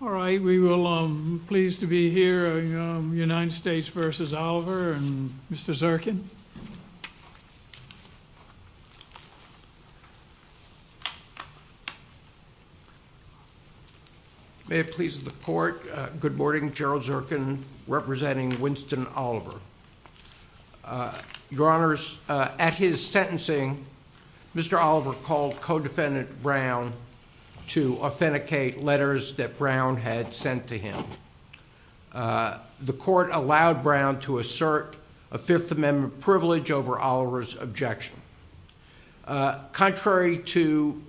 All right, we will, I'm pleased to be here, United States v. Oliver and Mr. Zirkin. May it please the court, good morning, Gerald Zirkin representing Winston Oliver. Your honors, at his sentencing, Mr. Oliver called co-defendant Brown to authenticate letters that Brown had sent to him. The court allowed Brown to assert a Fifth Amendment privilege over Oliver's objection. Contrary to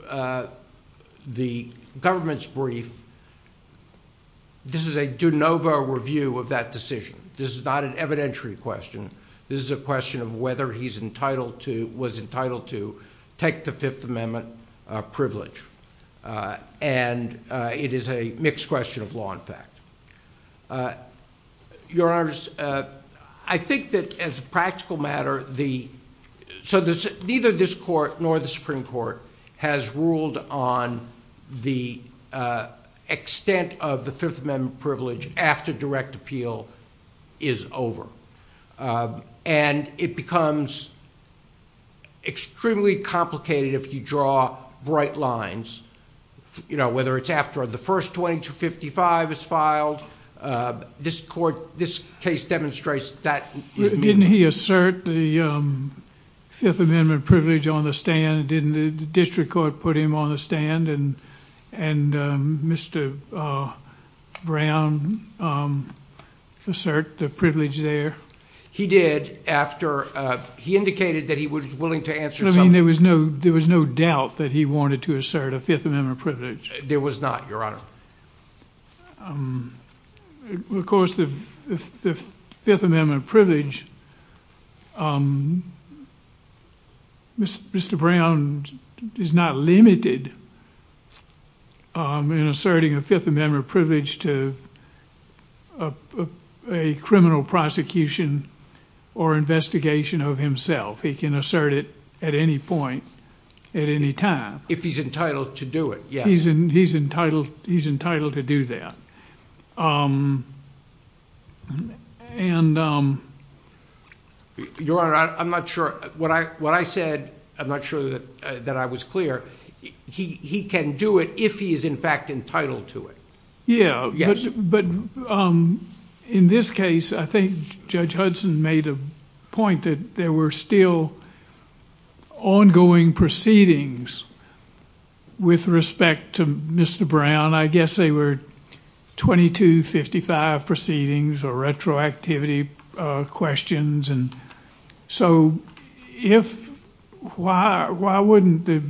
the government's brief, this is a de novo review of that decision. This is not an evidentiary question. This is a question of whether he was entitled to take the Fifth Amendment privilege. And it is a mixed question of law and fact. Your honors, I think that as a practical matter, so neither this court nor the Supreme Court has ruled on the extent of the Fifth Amendment privilege after direct appeal is over. And it becomes extremely complicated if you draw bright lines, you know, whether it's after the first 2255 is filed. This court, this case demonstrates that. Didn't he assert the Fifth Amendment privilege on the stand? Didn't the district court put him on the stand and Mr. Brown assert the privilege there? He did after he indicated that he was willing to answer. I mean, there was no there was no doubt that he wanted to assert a Fifth Amendment privilege. There was not, your honor. Of course, the Fifth Amendment privilege. Mr. Brown is not limited in asserting a Fifth Amendment privilege to a criminal prosecution or investigation of himself. He can assert it at any point at any time if he's entitled to do it. Yeah, he's in. He's entitled. He's entitled to do that. And your honor, I'm not sure what I what I said. I'm not sure that that I was clear. He can do it if he is, in fact, entitled to it. Yeah. But in this case, I think Judge Hudson made a point that there were still ongoing proceedings with respect to Mr. Brown. I guess they were 2255 proceedings or retroactivity questions. So if why, why wouldn't the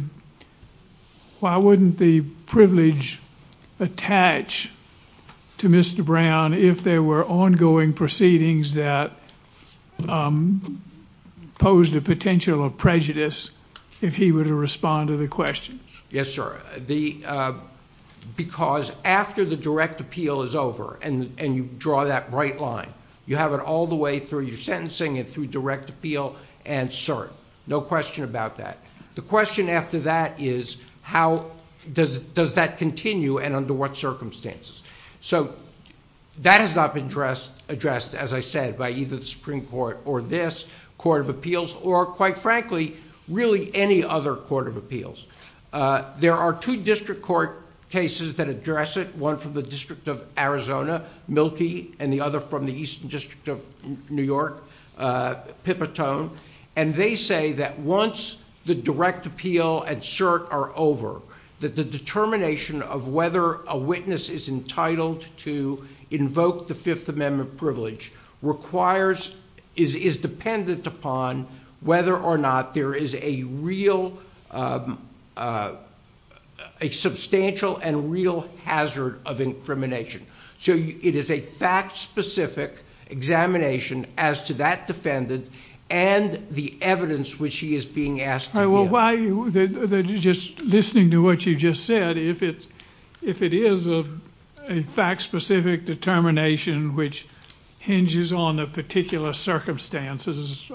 why wouldn't the privilege attach to Mr. Brown if there were ongoing proceedings that posed a potential of prejudice if he were to respond to the questions? Yes, sir. The because after the direct appeal is over and you draw that bright line, you have it all the way through your sentencing and through direct appeal. And sir, no question about that. The question after that is how does does that continue and under what circumstances? So that has not been addressed, addressed, as I said, by either the Supreme Court or this court of appeals or, quite frankly, really any other court of appeals. There are two district court cases that address it, one from the District of Arizona, Milky, and the other from the Eastern District of New York, Pipitone. And they say that once the direct appeal and cert are over, that the determination of whether a witness is entitled to invoke the Fifth Amendment privilege requires is dependent upon whether or not there is a real a substantial and real hazard of incrimination. So it is a fact specific examination as to that defendant and the evidence which he is being asked. Just listening to what you just said, if it's if it is a fact specific determination which hinges on the particular circumstances.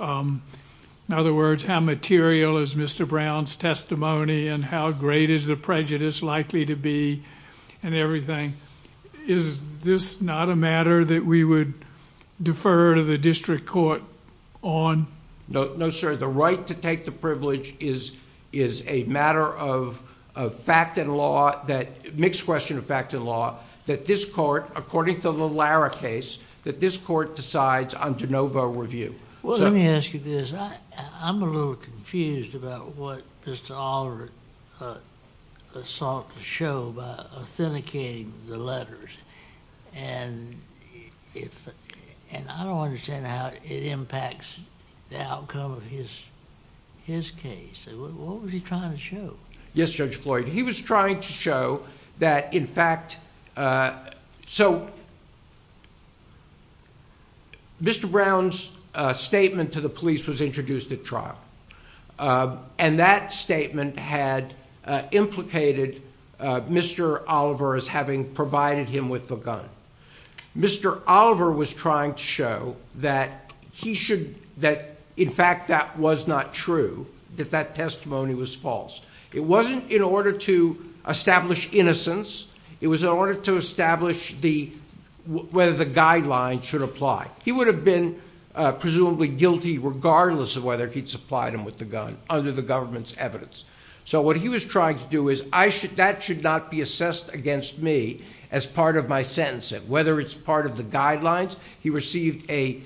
In other words, how material is Mr. Brown's testimony and how great is the prejudice likely to be and everything? Is this not a matter that we would defer to the district court on? No, sir. The right to take the privilege is a matter of fact and law that, mixed question of fact and law, that this court, according to the Lara case, that this court decides on de novo review. Well, let me ask you this. I'm a little confused about what Mr. Oliver sought to show by authenticating the letters. And I don't understand how it impacts the outcome of his case. What was he trying to show? Yes, Judge Floyd. He was trying to show that, in fact, so. Mr. Brown's statement to the police was introduced at trial, and that statement had implicated Mr. Oliver as having provided him with the gun. Mr. Oliver was trying to show that he should that, in fact, that was not true, that that testimony was false. It wasn't in order to establish innocence. It was in order to establish the whether the guidelines should apply. He would have been presumably guilty regardless of whether he'd supplied him with the gun under the government's evidence. So what he was trying to do is I should that should not be assessed against me as part of my sentence, whether it's part of the guidelines. He received a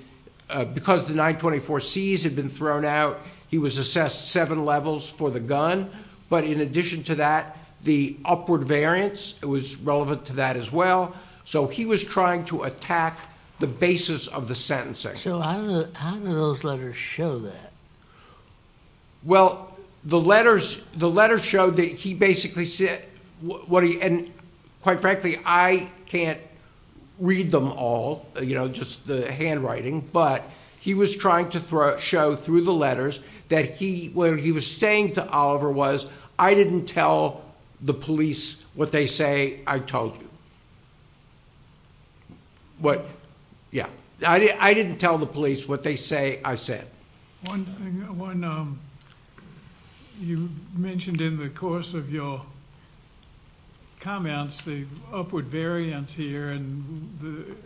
because the 924 C's had been thrown out. He was assessed seven levels for the gun. But in addition to that, the upward variance was relevant to that as well. So he was trying to attack the basis of the sentence. So how do those letters show that? Well, the letters the letters showed that he basically said what he and quite frankly, I can't read them all. You know, just the handwriting. But he was trying to show through the letters that he where he was saying to Oliver was I didn't tell the police what they say. I told you. What? Yeah, I didn't tell the police what they say. I said one thing when you mentioned in the course of your comments, the upward variance here and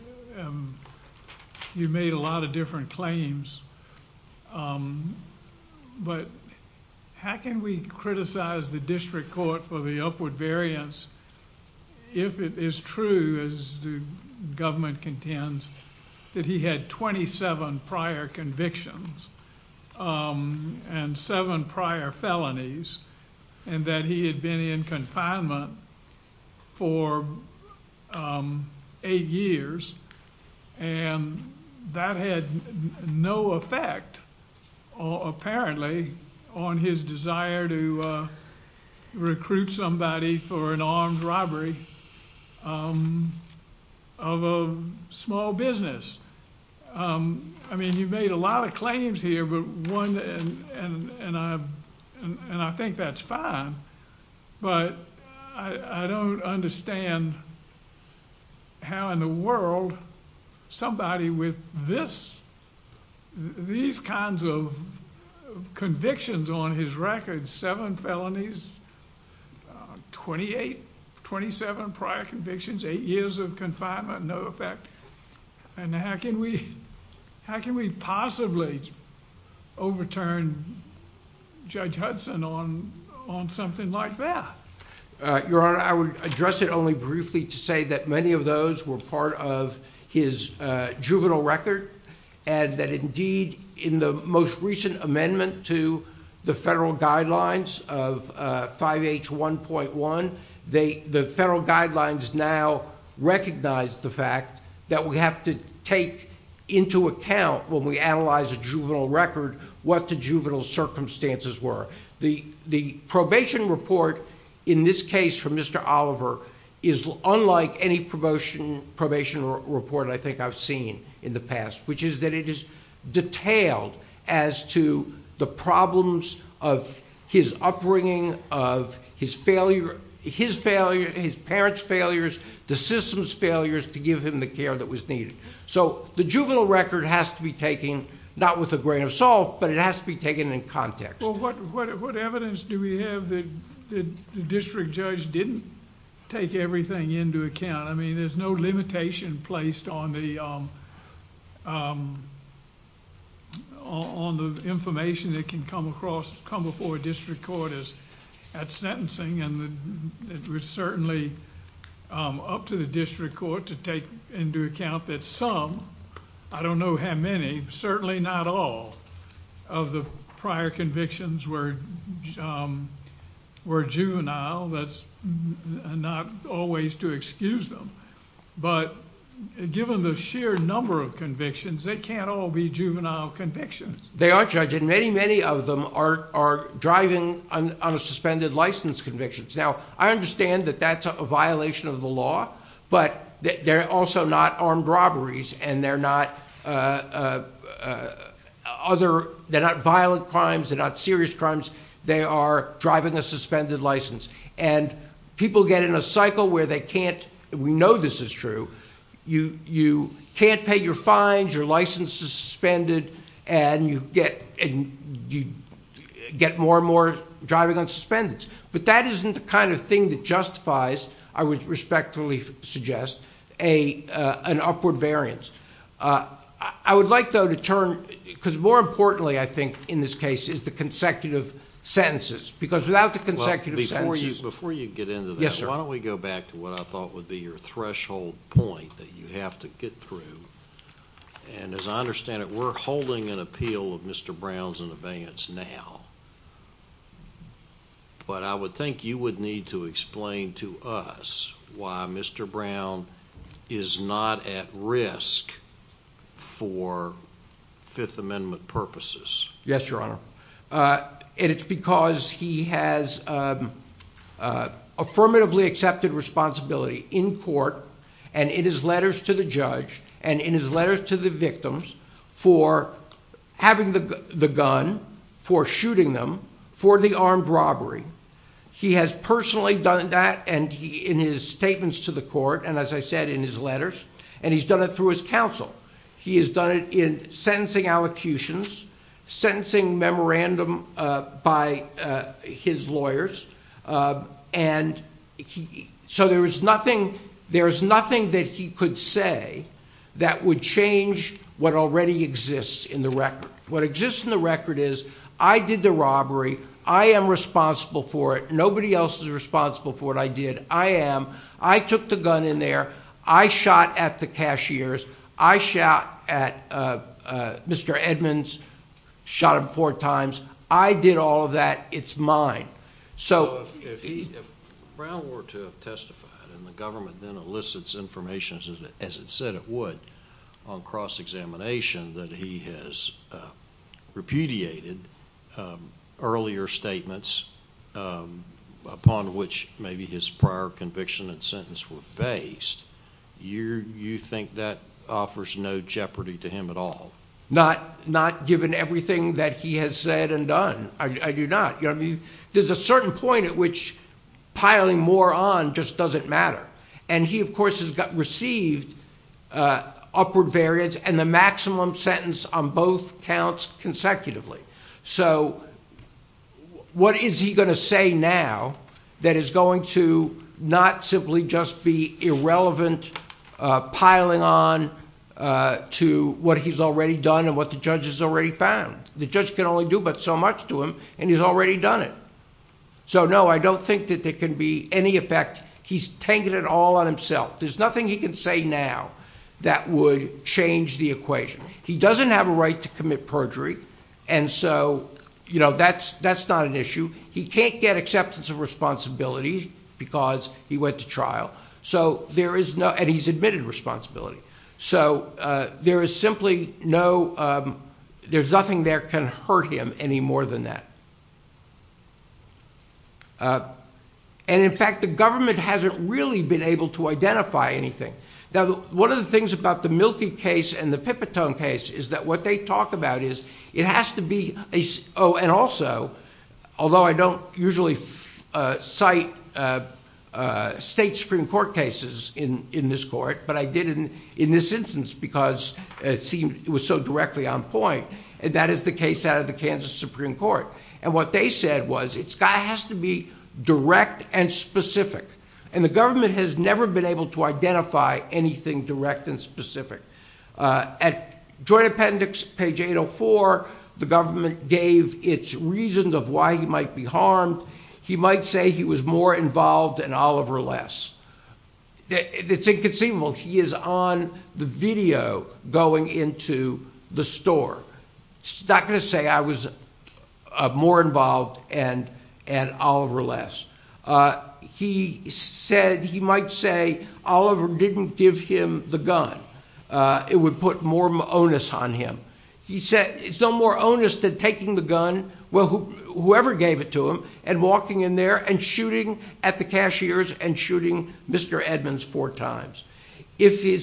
you made a lot of different claims. But how can we criticize the district court for the upward variance? If it is true, as the government contends that he had 27 prior convictions and seven prior felonies and that he had been in confinement. For eight years. And that had no effect or apparently on his desire to recruit somebody for an armed robbery of a small business. I mean, you made a lot of claims here, but one. And I and I think that's fine. But I don't understand how in the world somebody with this, these kinds of convictions on his record, seven felonies, 28, 27 prior convictions, eight years of confinement, no effect. And how can we how can we possibly overturn Judge Hudson on on something like that? Your Honor, I would address it only briefly to say that many of those were part of his juvenile record. And that indeed, in the most recent amendment to the federal guidelines of 5H1.1, the federal guidelines now recognize the fact that we have to take into account when we analyze a juvenile record, what the juvenile circumstances were. The probation report in this case for Mr. Oliver is unlike any promotion probation report I think I've seen in the past. Which is that it is detailed as to the problems of his upbringing, of his failure, his failure, his parents' failures, the system's failures to give him the care that was needed. So the juvenile record has to be taken, not with a grain of salt, but it has to be taken in context. What evidence do we have that the district judge didn't take everything into account? I mean, there's no limitation placed on the information that can come before a district court at sentencing. And it was certainly up to the district court to take into account that some, I don't know how many, certainly not all of the prior convictions were juvenile. That's not always to excuse them. But given the sheer number of convictions, they can't all be juvenile convictions. They are, Judge, and many, many of them are driving on a suspended license conviction. Now, I understand that that's a violation of the law, but they're also not armed robberies. And they're not violent crimes. They're not serious crimes. They are driving a suspended license. And people get in a cycle where they can't. We know this is true. You can't pay your fines, your license is suspended, and you get more and more driving on suspensions. But that isn't the kind of thing that justifies, I would respectfully suggest, an upward variance. I would like, though, to turn, because more importantly, I think, in this case, is the consecutive sentences. Before you get into that, why don't we go back to what I thought would be your threshold point that you have to get through. And as I understand it, we're holding an appeal of Mr. Brown's in advance now. But I would think you would need to explain to us why Mr. Brown is not at risk for Fifth Amendment purposes. Yes, Your Honor. And it's because he has affirmatively accepted responsibility in court and in his letters to the judge and in his letters to the victims for having the gun, for shooting them, for the armed robbery. He has personally done that in his statements to the court and, as I said, in his letters. And he's done it through his counsel. He has done it in sentencing allocutions, sentencing memorandum by his lawyers. And so there is nothing that he could say that would change what already exists in the record. What exists in the record is, I did the robbery. I am responsible for it. Nobody else is responsible for what I did. I am. I took the gun in there. I shot at the cashiers. I shot at Mr. Edmonds, shot him four times. I did all of that. It's mine. So if he – If Brown were to have testified and the government then elicits information, as it said it would, on cross-examination, that he has repudiated earlier statements upon which maybe his prior conviction and sentence were based, you think that offers no jeopardy to him at all? Not given everything that he has said and done. I do not. There's a certain point at which piling more on just doesn't matter. And he, of course, has received upward variance, and the maximum sentence on both counts consecutively. So what is he going to say now that is going to not simply just be irrelevant piling on to what he's already done and what the judge has already found? The judge can only do but so much to him, and he's already done it. So, no, I don't think that there can be any effect. He's taken it all on himself. There's nothing he can say now that would change the equation. He doesn't have a right to commit perjury, and so, you know, that's not an issue. He can't get acceptance of responsibility because he went to trial, and he's admitted responsibility. So there is simply no, there's nothing there can hurt him any more than that. And, in fact, the government hasn't really been able to identify anything. Now, one of the things about the Milky case and the Pipitone case is that what they talk about is it has to be, oh, and also, although I don't usually cite state Supreme Court cases in this court, but I did in this instance because it seemed it was so directly on point, that is the case out of the Kansas Supreme Court. And what they said was it has to be direct and specific, and the government has never been able to identify anything direct and specific. At Joint Appendix, page 804, the government gave its reasons of why he might be harmed. He might say he was more involved and Oliver less. It's inconceivable. He is on the video going into the store. He's not going to say I was more involved and Oliver less. He said he might say Oliver didn't give him the gun. It would put more onus on him. He said it's no more onus than taking the gun, whoever gave it to him, and walking in there and shooting at the cashiers and shooting Mr. Edmonds four times. They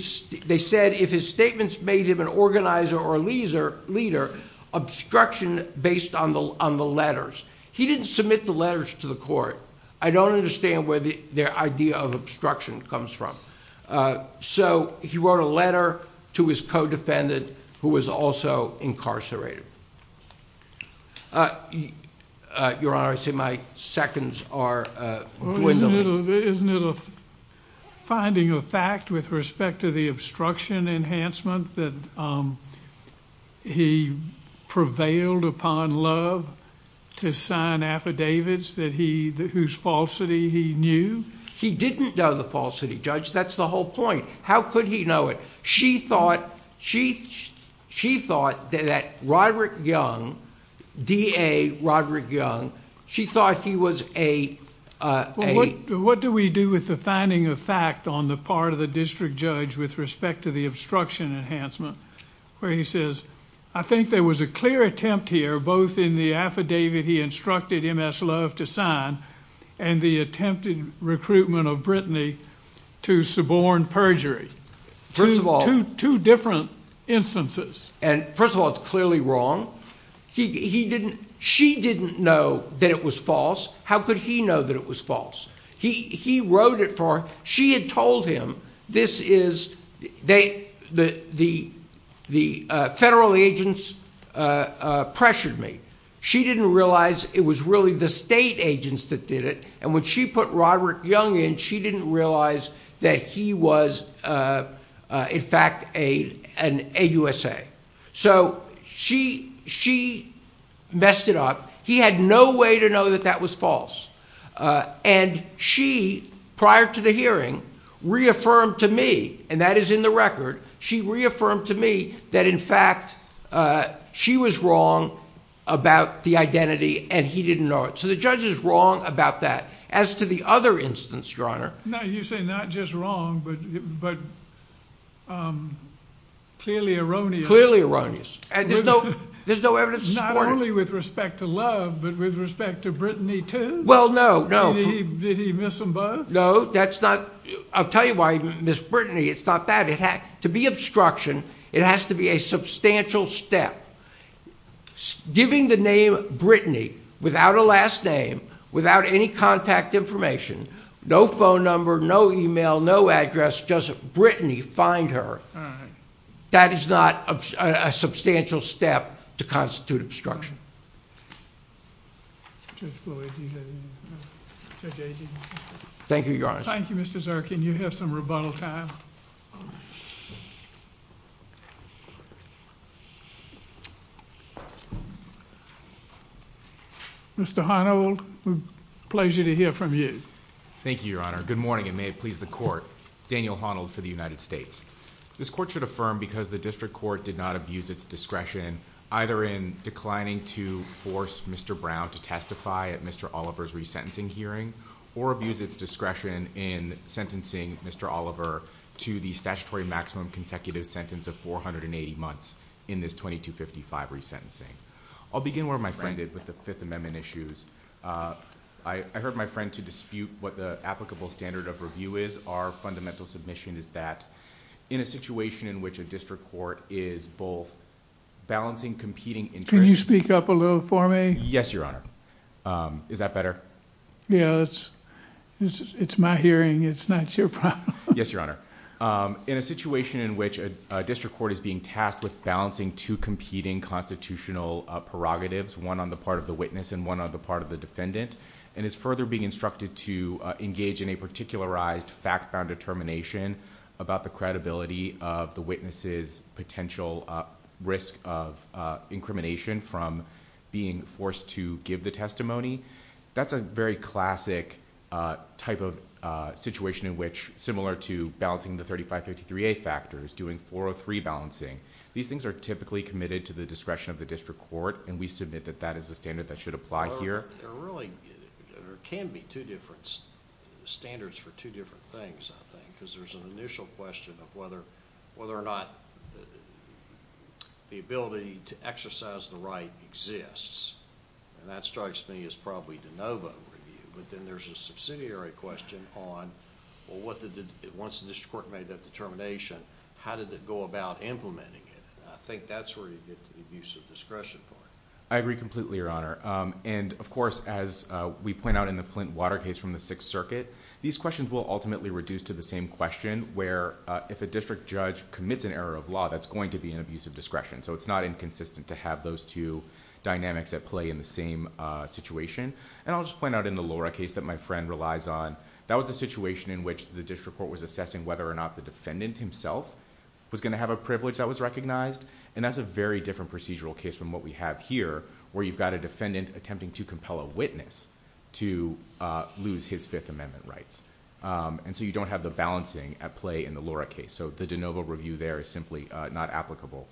said if his statements made him an organizer or a leader, obstruction based on the letters. He didn't submit the letters to the court. I don't understand where their idea of obstruction comes from. So he wrote a letter to his co-defendant who was also incarcerated. Your Honor, I see my seconds are dwindling. Isn't it a finding of fact with respect to the obstruction enhancement that he prevailed upon love? His signed affidavits whose falsity he knew? He didn't know the falsity, Judge. That's the whole point. How could he know it? She thought that Roderick Young, D.A. Roderick Young, she thought he was a... What do we do with the finding of fact on the part of the district judge with respect to the obstruction enhancement? I think there was a clear attempt here both in the affidavit he instructed M.S. Love to sign and the attempted recruitment of Brittany to suborn perjury. Two different instances. First of all, it's clearly wrong. She didn't know that it was false. How could he know that it was false? He wrote it for her. She had told him this is... the federal agents pressured me. She didn't realize it was really the state agents that did it, and when she put Roderick Young in, she didn't realize that he was in fact an AUSA. So she messed it up. He had no way to know that that was false. And she, prior to the hearing, reaffirmed to me, and that is in the record, she reaffirmed to me that in fact she was wrong about the identity and he didn't know it. So the judge is wrong about that. As to the other instance, Your Honor... No, you say not just wrong but clearly erroneous. Clearly erroneous. And there's no evidence to support it. Not only with respect to love but with respect to Brittany, too? Well, no, no. Did he miss them both? No, that's not... I'll tell you why he missed Brittany. It's not that. To be obstruction, it has to be a substantial step. Giving the name Brittany without a last name, without any contact information, no phone number, no email, no address, just Brittany, find her. That is not a substantial step to constitute obstruction. Thank you, Your Honor. Thank you, Mr. Zirkin. You have some rebuttal time. Mr. Honnold, pleasure to hear from you. Thank you, Your Honor. Good morning and may it please the Court. Daniel Honnold for the United States. This Court should affirm because the district court did not abuse its discretion either in declining to force Mr. Brown to testify at Mr. Oliver's resentencing hearing or abuse its discretion in sentencing Mr. Oliver to the statutory maximum consecutive sentence of 480 months in this 2255 resentencing. I'll begin where my friend did with the Fifth Amendment issues. I heard my friend to dispute what the applicable standard of review is. Our fundamental submission is that in a situation in which a district court is both balancing competing interests... Can you speak up a little for me? Yes, Your Honor. Is that better? Yes. It's my hearing, it's not your problem. Yes, Your Honor. In a situation in which a district court is being tasked with balancing two competing constitutional prerogatives, one on the part of the witness and one on the part of the defendant, and is further being instructed to engage in a particularized fact-bound determination about the credibility of the witness's potential risk of incrimination from being forced to give the testimony, that's a very classic type of situation in which, similar to balancing the 3553A factors, doing 403 balancing. These things are typically committed to the discretion of the district court and we submit that that is the standard that should apply here. There can be two different standards for two different things, I think, because there's an initial question of whether or not the ability to exercise the right exists. That strikes me as probably de novo review. Then there's a subsidiary question on, once the district court made that determination, how did it go about implementing it? I think that's where you get to the abuse of discretion part. I agree completely, Your Honor. Of course, as we point out in the Flint Water case from the Sixth Circuit, these questions will ultimately reduce to the same question, where if a district judge commits an error of law, that's going to be an abuse of discretion. It's not inconsistent to have those two dynamics at play in the same situation. I'll just point out in the Laura case that my friend relies on, that was a situation in which the district court was assessing whether or not the defendant himself was going to have a privilege that was recognized. That's a very different procedural case from what we have here, where you've got a defendant attempting to compel a witness to lose his Fifth Amendment rights. You don't have the balancing at play in the Laura case. The de novo review there is simply not applicable.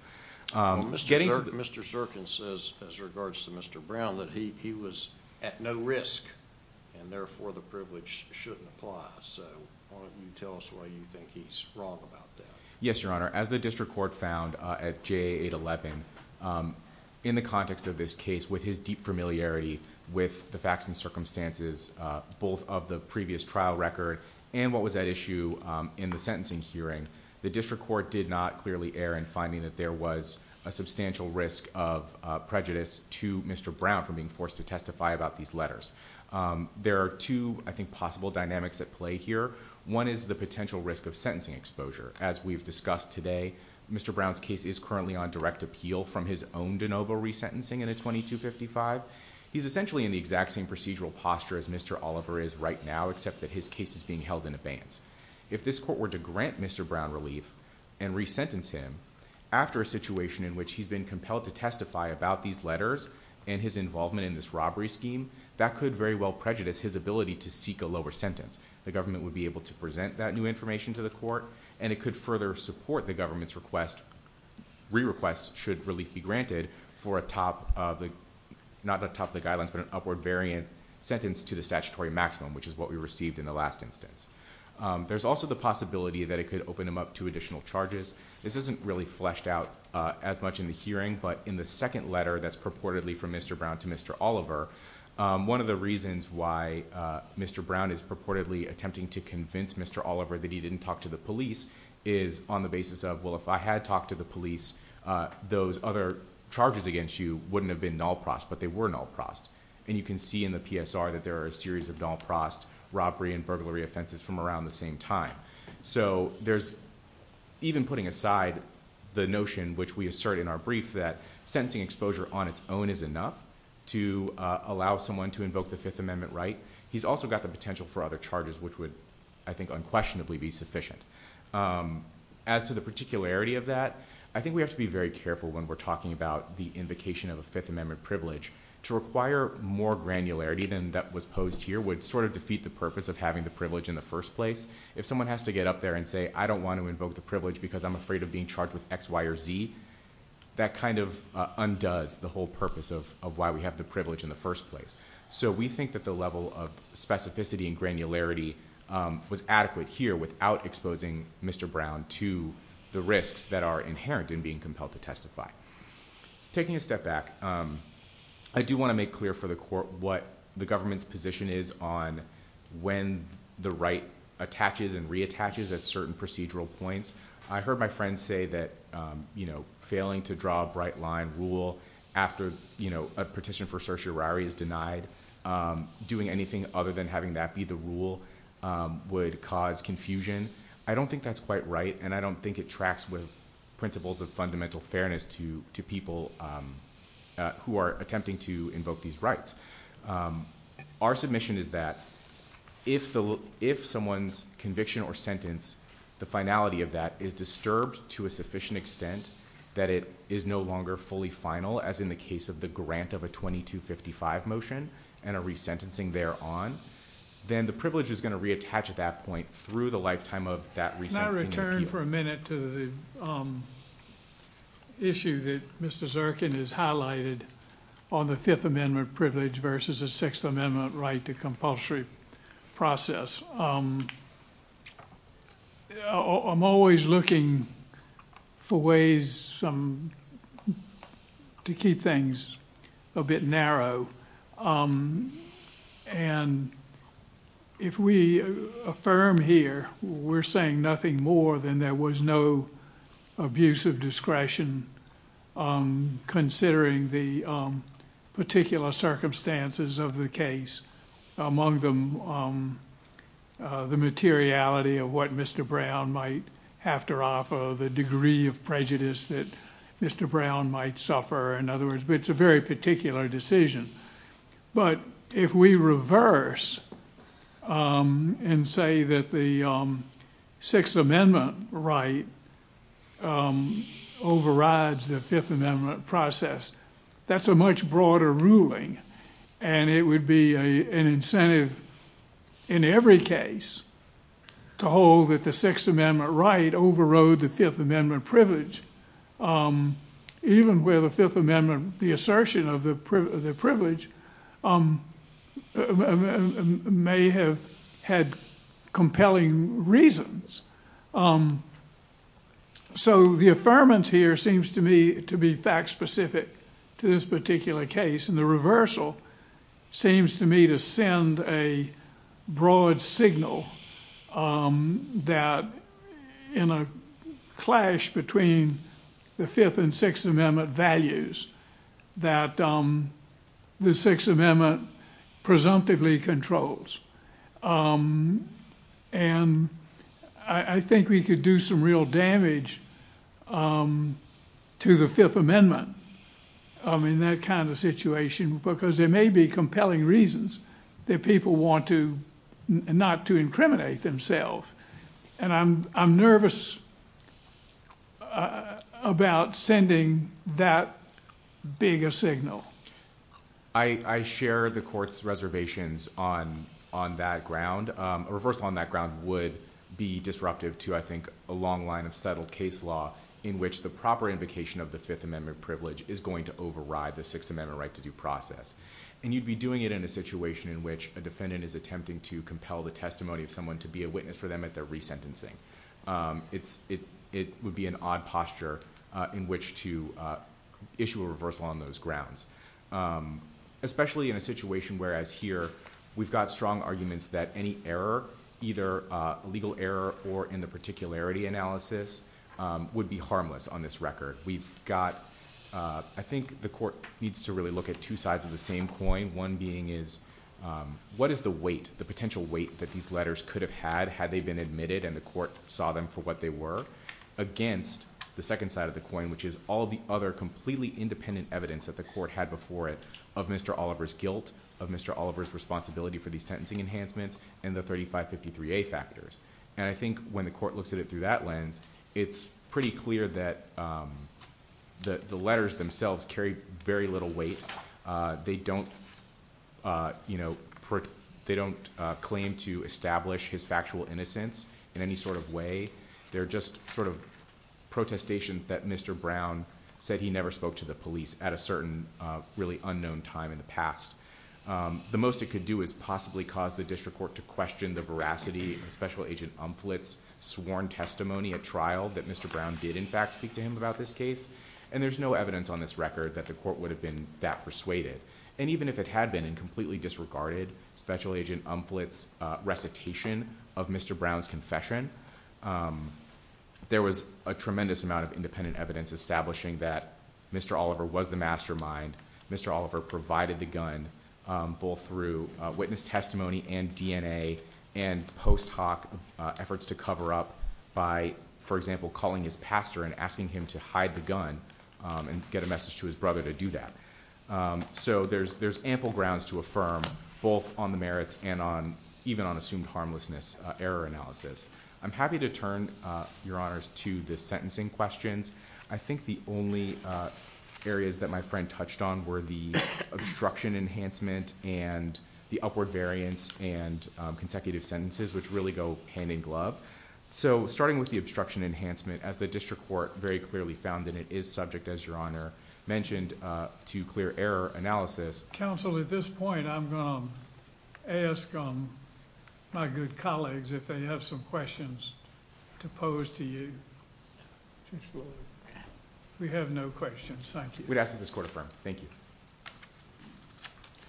Mr. Zirkin says, as regards to Mr. Brown, that he was at no risk, and therefore the privilege shouldn't apply. Why don't you tell us why you think he's wrong about that? Yes, Your Honor. As the district court found at JA 811, in the context of this case, with his deep familiarity with the facts and circumstances, both of the previous trial record and what was at issue in the sentencing hearing, the district court did not clearly err in finding that there was a substantial risk of prejudice to Mr. Brown from being forced to testify about these letters. There are two, I think, possible dynamics at play here. One is the potential risk of sentencing exposure. As we've discussed today, Mr. Brown's case is currently on direct appeal from his own de novo resentencing in a 2255. He's essentially in the exact same procedural posture as Mr. Oliver is right now, except that his case is being held in abeyance. If this court were to grant Mr. Brown relief and resentence him after a situation in which he's been compelled to testify about these letters and his involvement in this robbery scheme, that could very well prejudice his ability to seek a lower sentence. The government would be able to present that new information to the court, and it could further support the government's request, re-request should relief be granted for a top of the, not a top of the guidelines, but an upward variant sentence to the statutory maximum, which is what we received in the last instance. There's also the possibility that it could open him up to additional charges. This isn't really fleshed out as much in the hearing, but in the second letter that's purportedly from Mr. Brown to Mr. Oliver, one of the reasons why Mr. Brown is purportedly attempting to convince Mr. Oliver that he didn't talk to the police is on the basis of, well, if I had talked to the police, those other charges against you wouldn't have been null-prost, but they were null-prost. And you can see in the PSR that there are a series of null-prost robbery and burglary offenses from around the same time. So there's, even putting aside the notion, which we assert in our brief, that sentencing exposure on its own is enough to allow someone to invoke the Fifth Amendment right. He's also got the potential for other charges, which would, I think, unquestionably be sufficient. As to the particularity of that, I think we have to be very careful when we're talking about the invocation of a Fifth Amendment privilege. To require more granularity than that was posed here would sort of defeat the purpose of having the privilege in the first place. If someone has to get up there and say, because I'm afraid of being charged with X, Y, or Z, that kind of undoes the whole purpose of why we have the privilege in the first place. So we think that the level of specificity and granularity was adequate here without exposing Mr. Brown to the risks that are inherent in being compelled to testify. Taking a step back, I do want to make clear for the Court what the government's position is on when the right attaches and reattaches at certain procedural points. I heard my friend say that failing to draw a bright line rule after a petition for certiorari is denied, doing anything other than having that be the rule would cause confusion. I don't think that's quite right, and I don't think it tracks with principles of fundamental fairness to people who are attempting to invoke these rights. Our submission is that if someone's conviction or sentence, the finality of that is disturbed to a sufficient extent that it is no longer fully final, as in the case of the grant of a 2255 motion and a resentencing thereon, then the privilege is going to reattach at that point through the lifetime of that resentencing appeal. Can I return for a minute to the issue that Mr. Zirkin has highlighted on the Fifth Amendment privilege versus the Sixth Amendment right to compulsory process? I'm always looking for ways to keep things a bit narrow, and if we affirm here we're saying nothing more than there was no abuse of discretion considering the particular circumstances of the case, among them the materiality of what Mr. Brown might have to offer, the degree of prejudice that Mr. Brown might suffer, in other words, it's a very particular decision. But if we reverse and say that the Sixth Amendment right overrides the Fifth Amendment process, that's a much broader ruling, and it would be an incentive in every case to hold that the Sixth Amendment right overrode the Fifth Amendment privilege, even where the Fifth Amendment, the assertion of the privilege may have had compelling reasons So the affirmance here seems to me to be fact-specific to this particular case, and the reversal seems to me to send a broad signal that in a clash between the Fifth and Sixth Amendment values that the Sixth Amendment presumptively controls. And I think we could do some real damage to the Fifth Amendment in that kind of situation because there may be compelling reasons that people want to not to incriminate themselves, and I'm nervous about sending that big a signal. I share the Court's reservations on that ground. A reversal on that ground would be disruptive to, I think, a long line of settled case law in which the proper invocation of the Fifth Amendment privilege is going to override the Sixth Amendment right-to-do process. And you'd be doing it in a situation in which a defendant is attempting to compel the testimony of someone to be a witness for them at their resentencing. It would be an odd posture in which to issue a reversal on those grounds, especially in a situation where, as here, we've got strong arguments that any error, either legal error or in the particularity analysis, would be harmless on this record. We've got, I think the Court needs to really look at two sides of the same coin, one being is what is the weight, the potential weight that these letters could have had had they been admitted and the Court saw them for what they were against the second side of the coin, which is all the other completely independent evidence that the Court had before it of Mr. Oliver's guilt, of Mr. Oliver's responsibility for these sentencing enhancements, and the 3553A factors. And I think when the Court looks at it through that lens, it's pretty clear that the letters themselves carry very little weight. They don't claim to establish his factual innocence in any sort of way. They're just sort of protestations that Mr. Brown said he never spoke to the police at a certain really unknown time in the past. The most it could do is possibly cause the District Court to question the veracity of Special Agent Umphlett's sworn testimony at trial that Mr. Brown did in fact speak to him about this case, and there's no evidence on this record that the Court would have been that persuaded. And even if it had been in completely disregarded Special Agent Umphlett's recitation of Mr. Brown's confession, there was a tremendous amount of independent evidence establishing that Mr. Oliver was the mastermind, Mr. Oliver provided the gun, both through witness testimony and DNA and post hoc efforts to cover up by, for example, calling his pastor and asking him to hide the gun and get a message to his brother to do that. So there's ample grounds to affirm both on the merits and even on assumed harmlessness error analysis. I'm happy to turn, Your Honors, to the sentencing questions. I think the only areas that my friend touched on were the obstruction enhancement and the upward variance and consecutive sentences which really go hand in glove. So starting with the obstruction enhancement, as the District Court very clearly found that it is subject, as Your Honor mentioned, to clear error analysis. Counsel, at this point, I'm gonna ask my good colleagues if they have some questions to pose to you. We have no questions, thank you. We'd ask that this Court affirm. Thank you.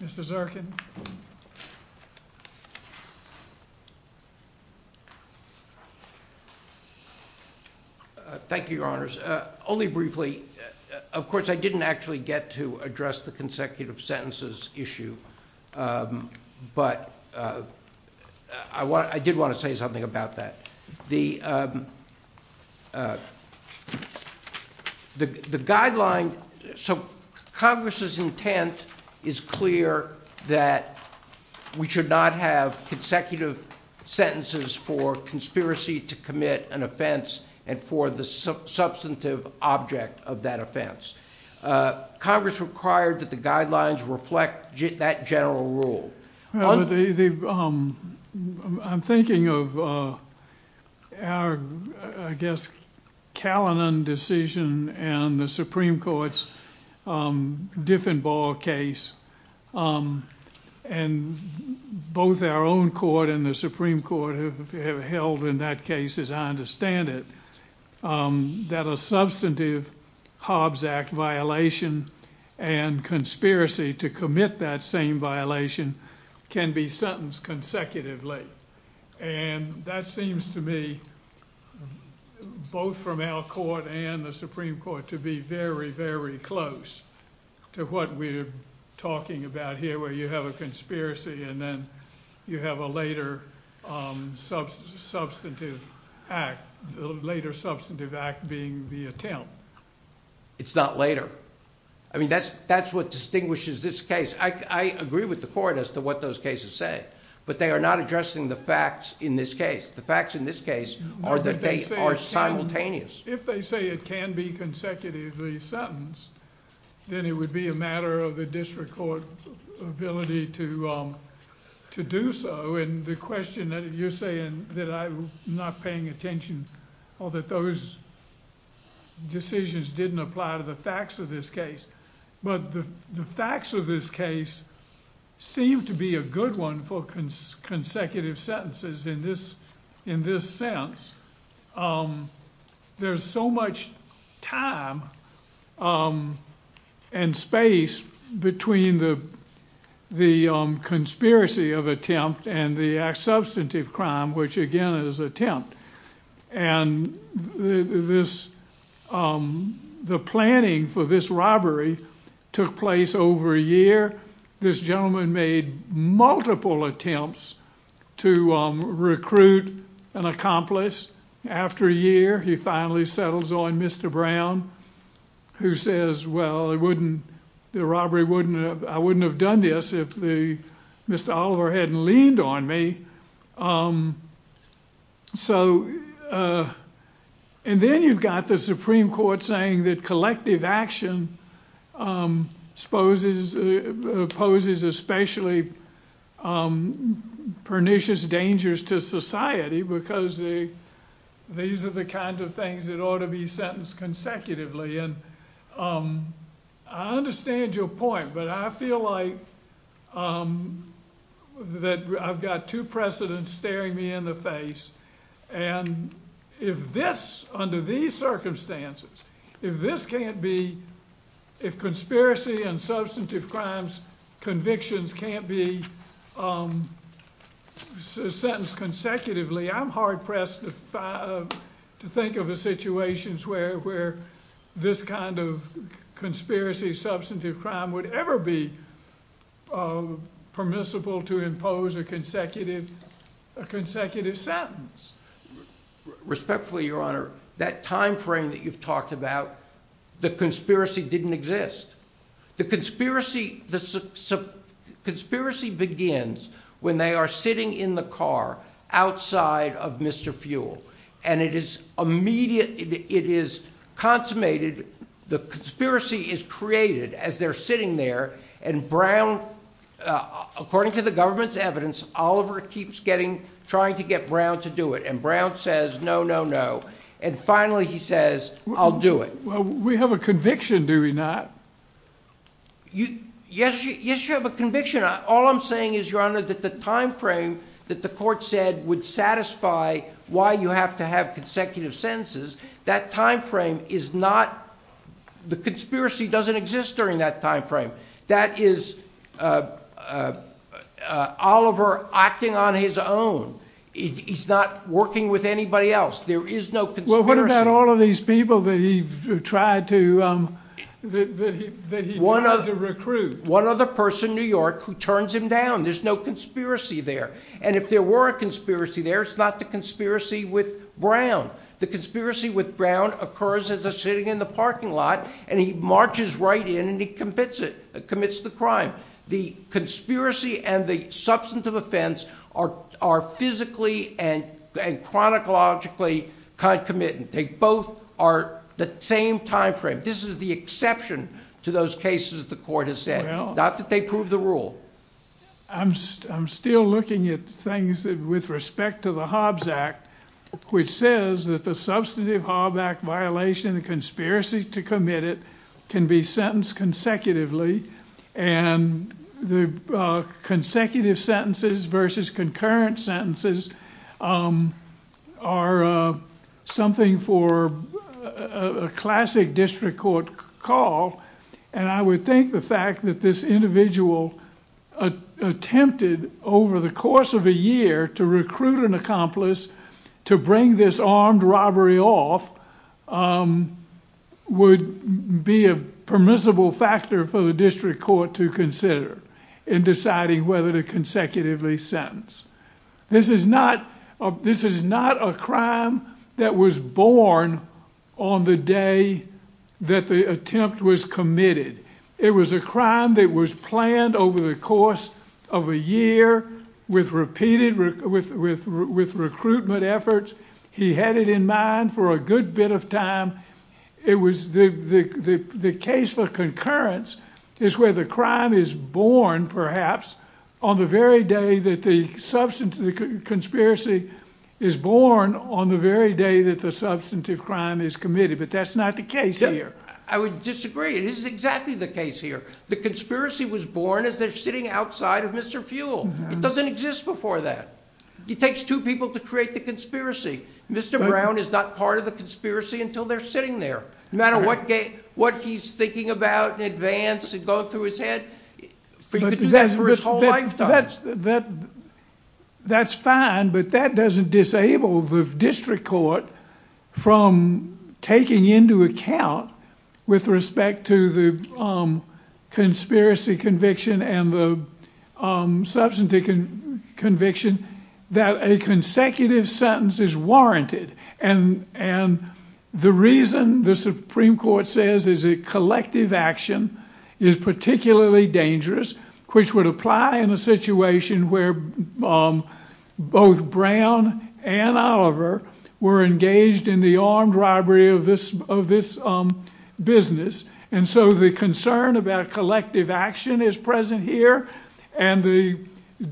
Mr. Zirkin. Thank you, Your Honors. Only briefly, of course, I didn't actually get to address the consecutive sentences issue, but I did want to say something about that. The guideline... So Congress's intent is clear that we should not have consecutive sentences for conspiracy to commit an offense and for the substantive object of that offense. Congress required that the guidelines reflect that general rule. I'm thinking of our, I guess, Callinan decision and the Supreme Court's Diffenbaugh case, and both our own court and the Supreme Court have held in that case, as I understand it, that a substantive Hobbs Act violation and conspiracy to commit that same violation can be sentenced consecutively. And that seems to me, both from our court and the Supreme Court, to be very, very close to what we're talking about here where you have a conspiracy and then you have a later substantive act, the later substantive act being the attempt. It's not later. I mean, that's what distinguishes this case. I agree with the court as to what those cases say, but they are not addressing the facts in this case. The facts in this case are that they are simultaneous. If they say it can be consecutively sentenced, then it would be a matter of the district court's ability to do so, and the question that you're saying that I'm not paying attention, or that those decisions didn't apply to the facts of this case, but the facts of this case seem to be a good one for consecutive sentences in this sense. There's so much time and space between the conspiracy of attempt and the substantive crime, which again is attempt, and the planning for this robbery took place over a year. This gentleman made multiple attempts to recruit an accomplice. After a year, he finally settles on Mr. Brown, who says, well, I wouldn't have done this if Mr. Oliver hadn't leaned on me. Then you've got the Supreme Court saying that collective action poses especially pernicious dangers to society because these are the kinds of things that ought to be sentenced consecutively. I understand your point, but I feel like that I've got two precedents staring me in the face, and if this, under these circumstances, if this can't be, if conspiracy and substantive crimes convictions can't be sentenced consecutively, I'm hard-pressed to think of a situation where this kind of conspiracy, substantive crime, would ever be permissible to impose a consecutive sentence. Respectfully, Your Honor, that time frame that you've talked about, the conspiracy didn't exist. The conspiracy begins when they are sitting in the car outside of Mr. Fuel, and it is immediate, it is consummated, the conspiracy is created as they're sitting there, and Brown, according to the government's evidence, Oliver keeps trying to get Brown to do it, and Brown says, no, no, no, and finally he says, I'll do it. We have a conviction, do we not? Yes, you have a conviction. All I'm saying is, Your Honor, that the time frame that the court said would satisfy why you have to have consecutive sentences, that time frame is not, the conspiracy doesn't exist during that time frame. That is Oliver acting on his own. He's not working with anybody else. There is no conspiracy. Well, what about all of these people that he tried to recruit? One other person in New York who turns him down. There's no conspiracy there, and if there were a conspiracy there, it's not the conspiracy with Brown. The conspiracy with Brown occurs as a sitting in the parking lot, and he marches right in, and he commits it, commits the crime. The conspiracy and the substantive offense are physically and chronologically concomitant. They both are the same time frame. This is the exception to those cases the court has said, not that they prove the rule. I'm still looking at things with respect to the Hobbs Act, which says that the substantive Hobbs Act violation and the conspiracy to commit it can be sentenced consecutively, and the consecutive sentences versus concurrent sentences are something for a classic district court call, and I would think the fact that this individual attempted over the course of a year to recruit an accomplice to bring this armed robbery off would be a permissible factor for the district court to consider in deciding whether to consecutively sentence. This is not a crime that was born on the day that the attempt was committed. It was a crime that was planned over the course of a year with repeated recruitment efforts. He had it in mind for a good bit of time. It was the case for concurrence is where the crime is born, perhaps, on the very day that the conspiracy is born on the very day that the substantive crime is committed, but that's not the case here. I would disagree. This is exactly the case here. The conspiracy was born as they're sitting outside of Mr. Fuel. It doesn't exist before that. It takes two people to create the conspiracy. Mr. Brown is not part of the conspiracy until they're sitting there. No matter what he's thinking about in advance and going through his head, he could do that for his whole lifetime. That's fine, but that doesn't disable the district court from taking into account with respect to the conspiracy conviction and the substantive conviction that a consecutive sentence is warranted, and the reason the Supreme Court says is that collective action is particularly dangerous, which would apply in a situation where both Brown and Oliver were engaged in the armed robbery of this business, and so the concern about collective action is present here, and the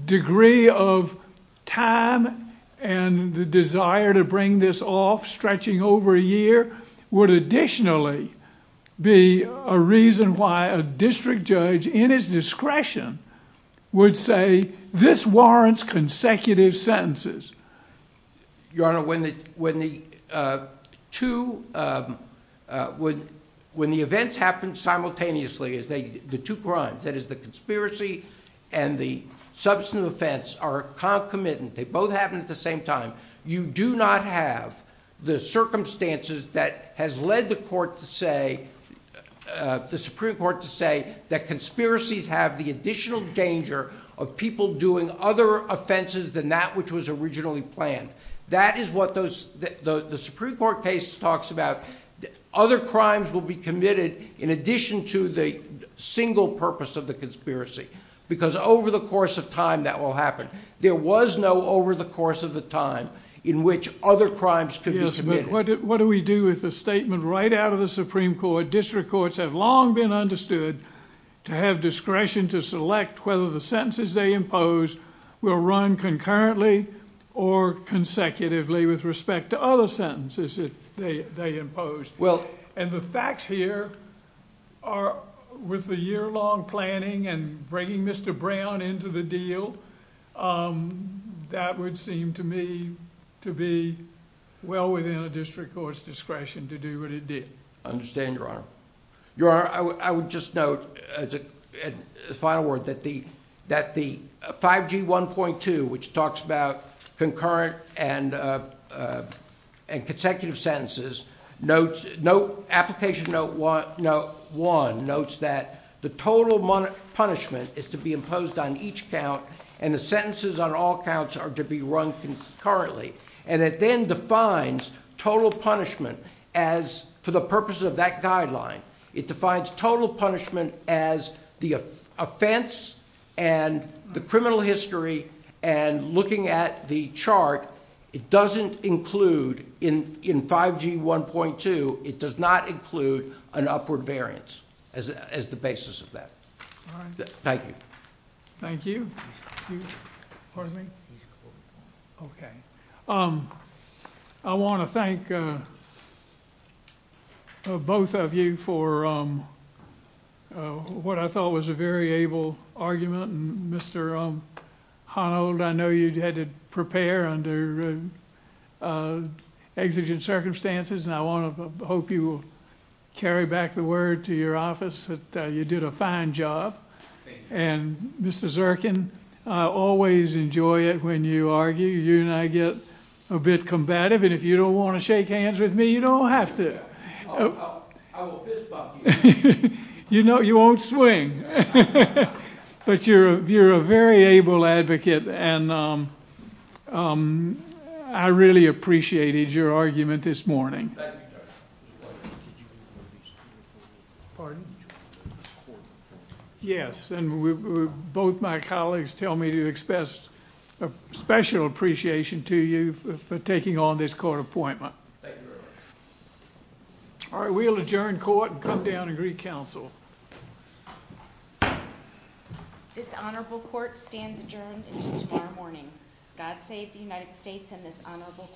degree of time and the desire to bring this off stretching over a year would additionally be a reason why a district judge, in his discretion, would say this warrants consecutive sentences. Your Honor, when the two... When the events happened simultaneously, the two crimes, that is the conspiracy and the substantive offense, are concomitant. They both happened at the same time. You do not have the circumstances that has led the Supreme Court to say that conspiracies have the additional danger of people doing other offenses than that which was originally planned. That is what the Supreme Court case talks about. Other crimes will be committed in addition to the single purpose of the conspiracy, because over the course of time that will happen. There was no over the course of the time in which other crimes could be committed. Yes, but what do we do with a statement right out of the Supreme Court? District courts have long been understood to have discretion to select whether the sentences they impose will run concurrently or consecutively with respect to other sentences that they impose. The facts here are, with the year-long planning and bringing Mr. Brown into the deal, that would seem to me to be well within a district court's discretion to do what it did. I understand, Your Honor. Your Honor, I would just note, as a final word, that the 5G 1.2, which talks about concurrent and consecutive sentences, Application Note 1 notes that the total punishment is to be imposed on each count and the sentences on all counts are to be run concurrently. And it then defines total punishment as, for the purposes of that guideline, it defines total punishment as the offense and the criminal history and, looking at the chart, it doesn't include, in 5G 1.2, it does not include an upward variance as the basis of that. Thank you. Thank you. Pardon me? Okay. I want to thank both of you for what I thought was a very able argument. Mr. Honnold, I know you had to prepare under exigent circumstances, and I hope you will carry back the word to your office that you did a fine job. And Mr. Zirkin, I always enjoy it when you argue. You and I get a bit combative, and if you don't want to shake hands with me, you don't have to. I will fist bump you. You won't swing. But you're a very able advocate, and I really appreciated your argument this morning. Yes, and both my colleagues tell me to express special appreciation to you for taking on this court appointment. Thank you very much. All right, we'll adjourn court and come down and re-counsel. This honorable court stands adjourned until tomorrow morning. God save the United States and this honorable court.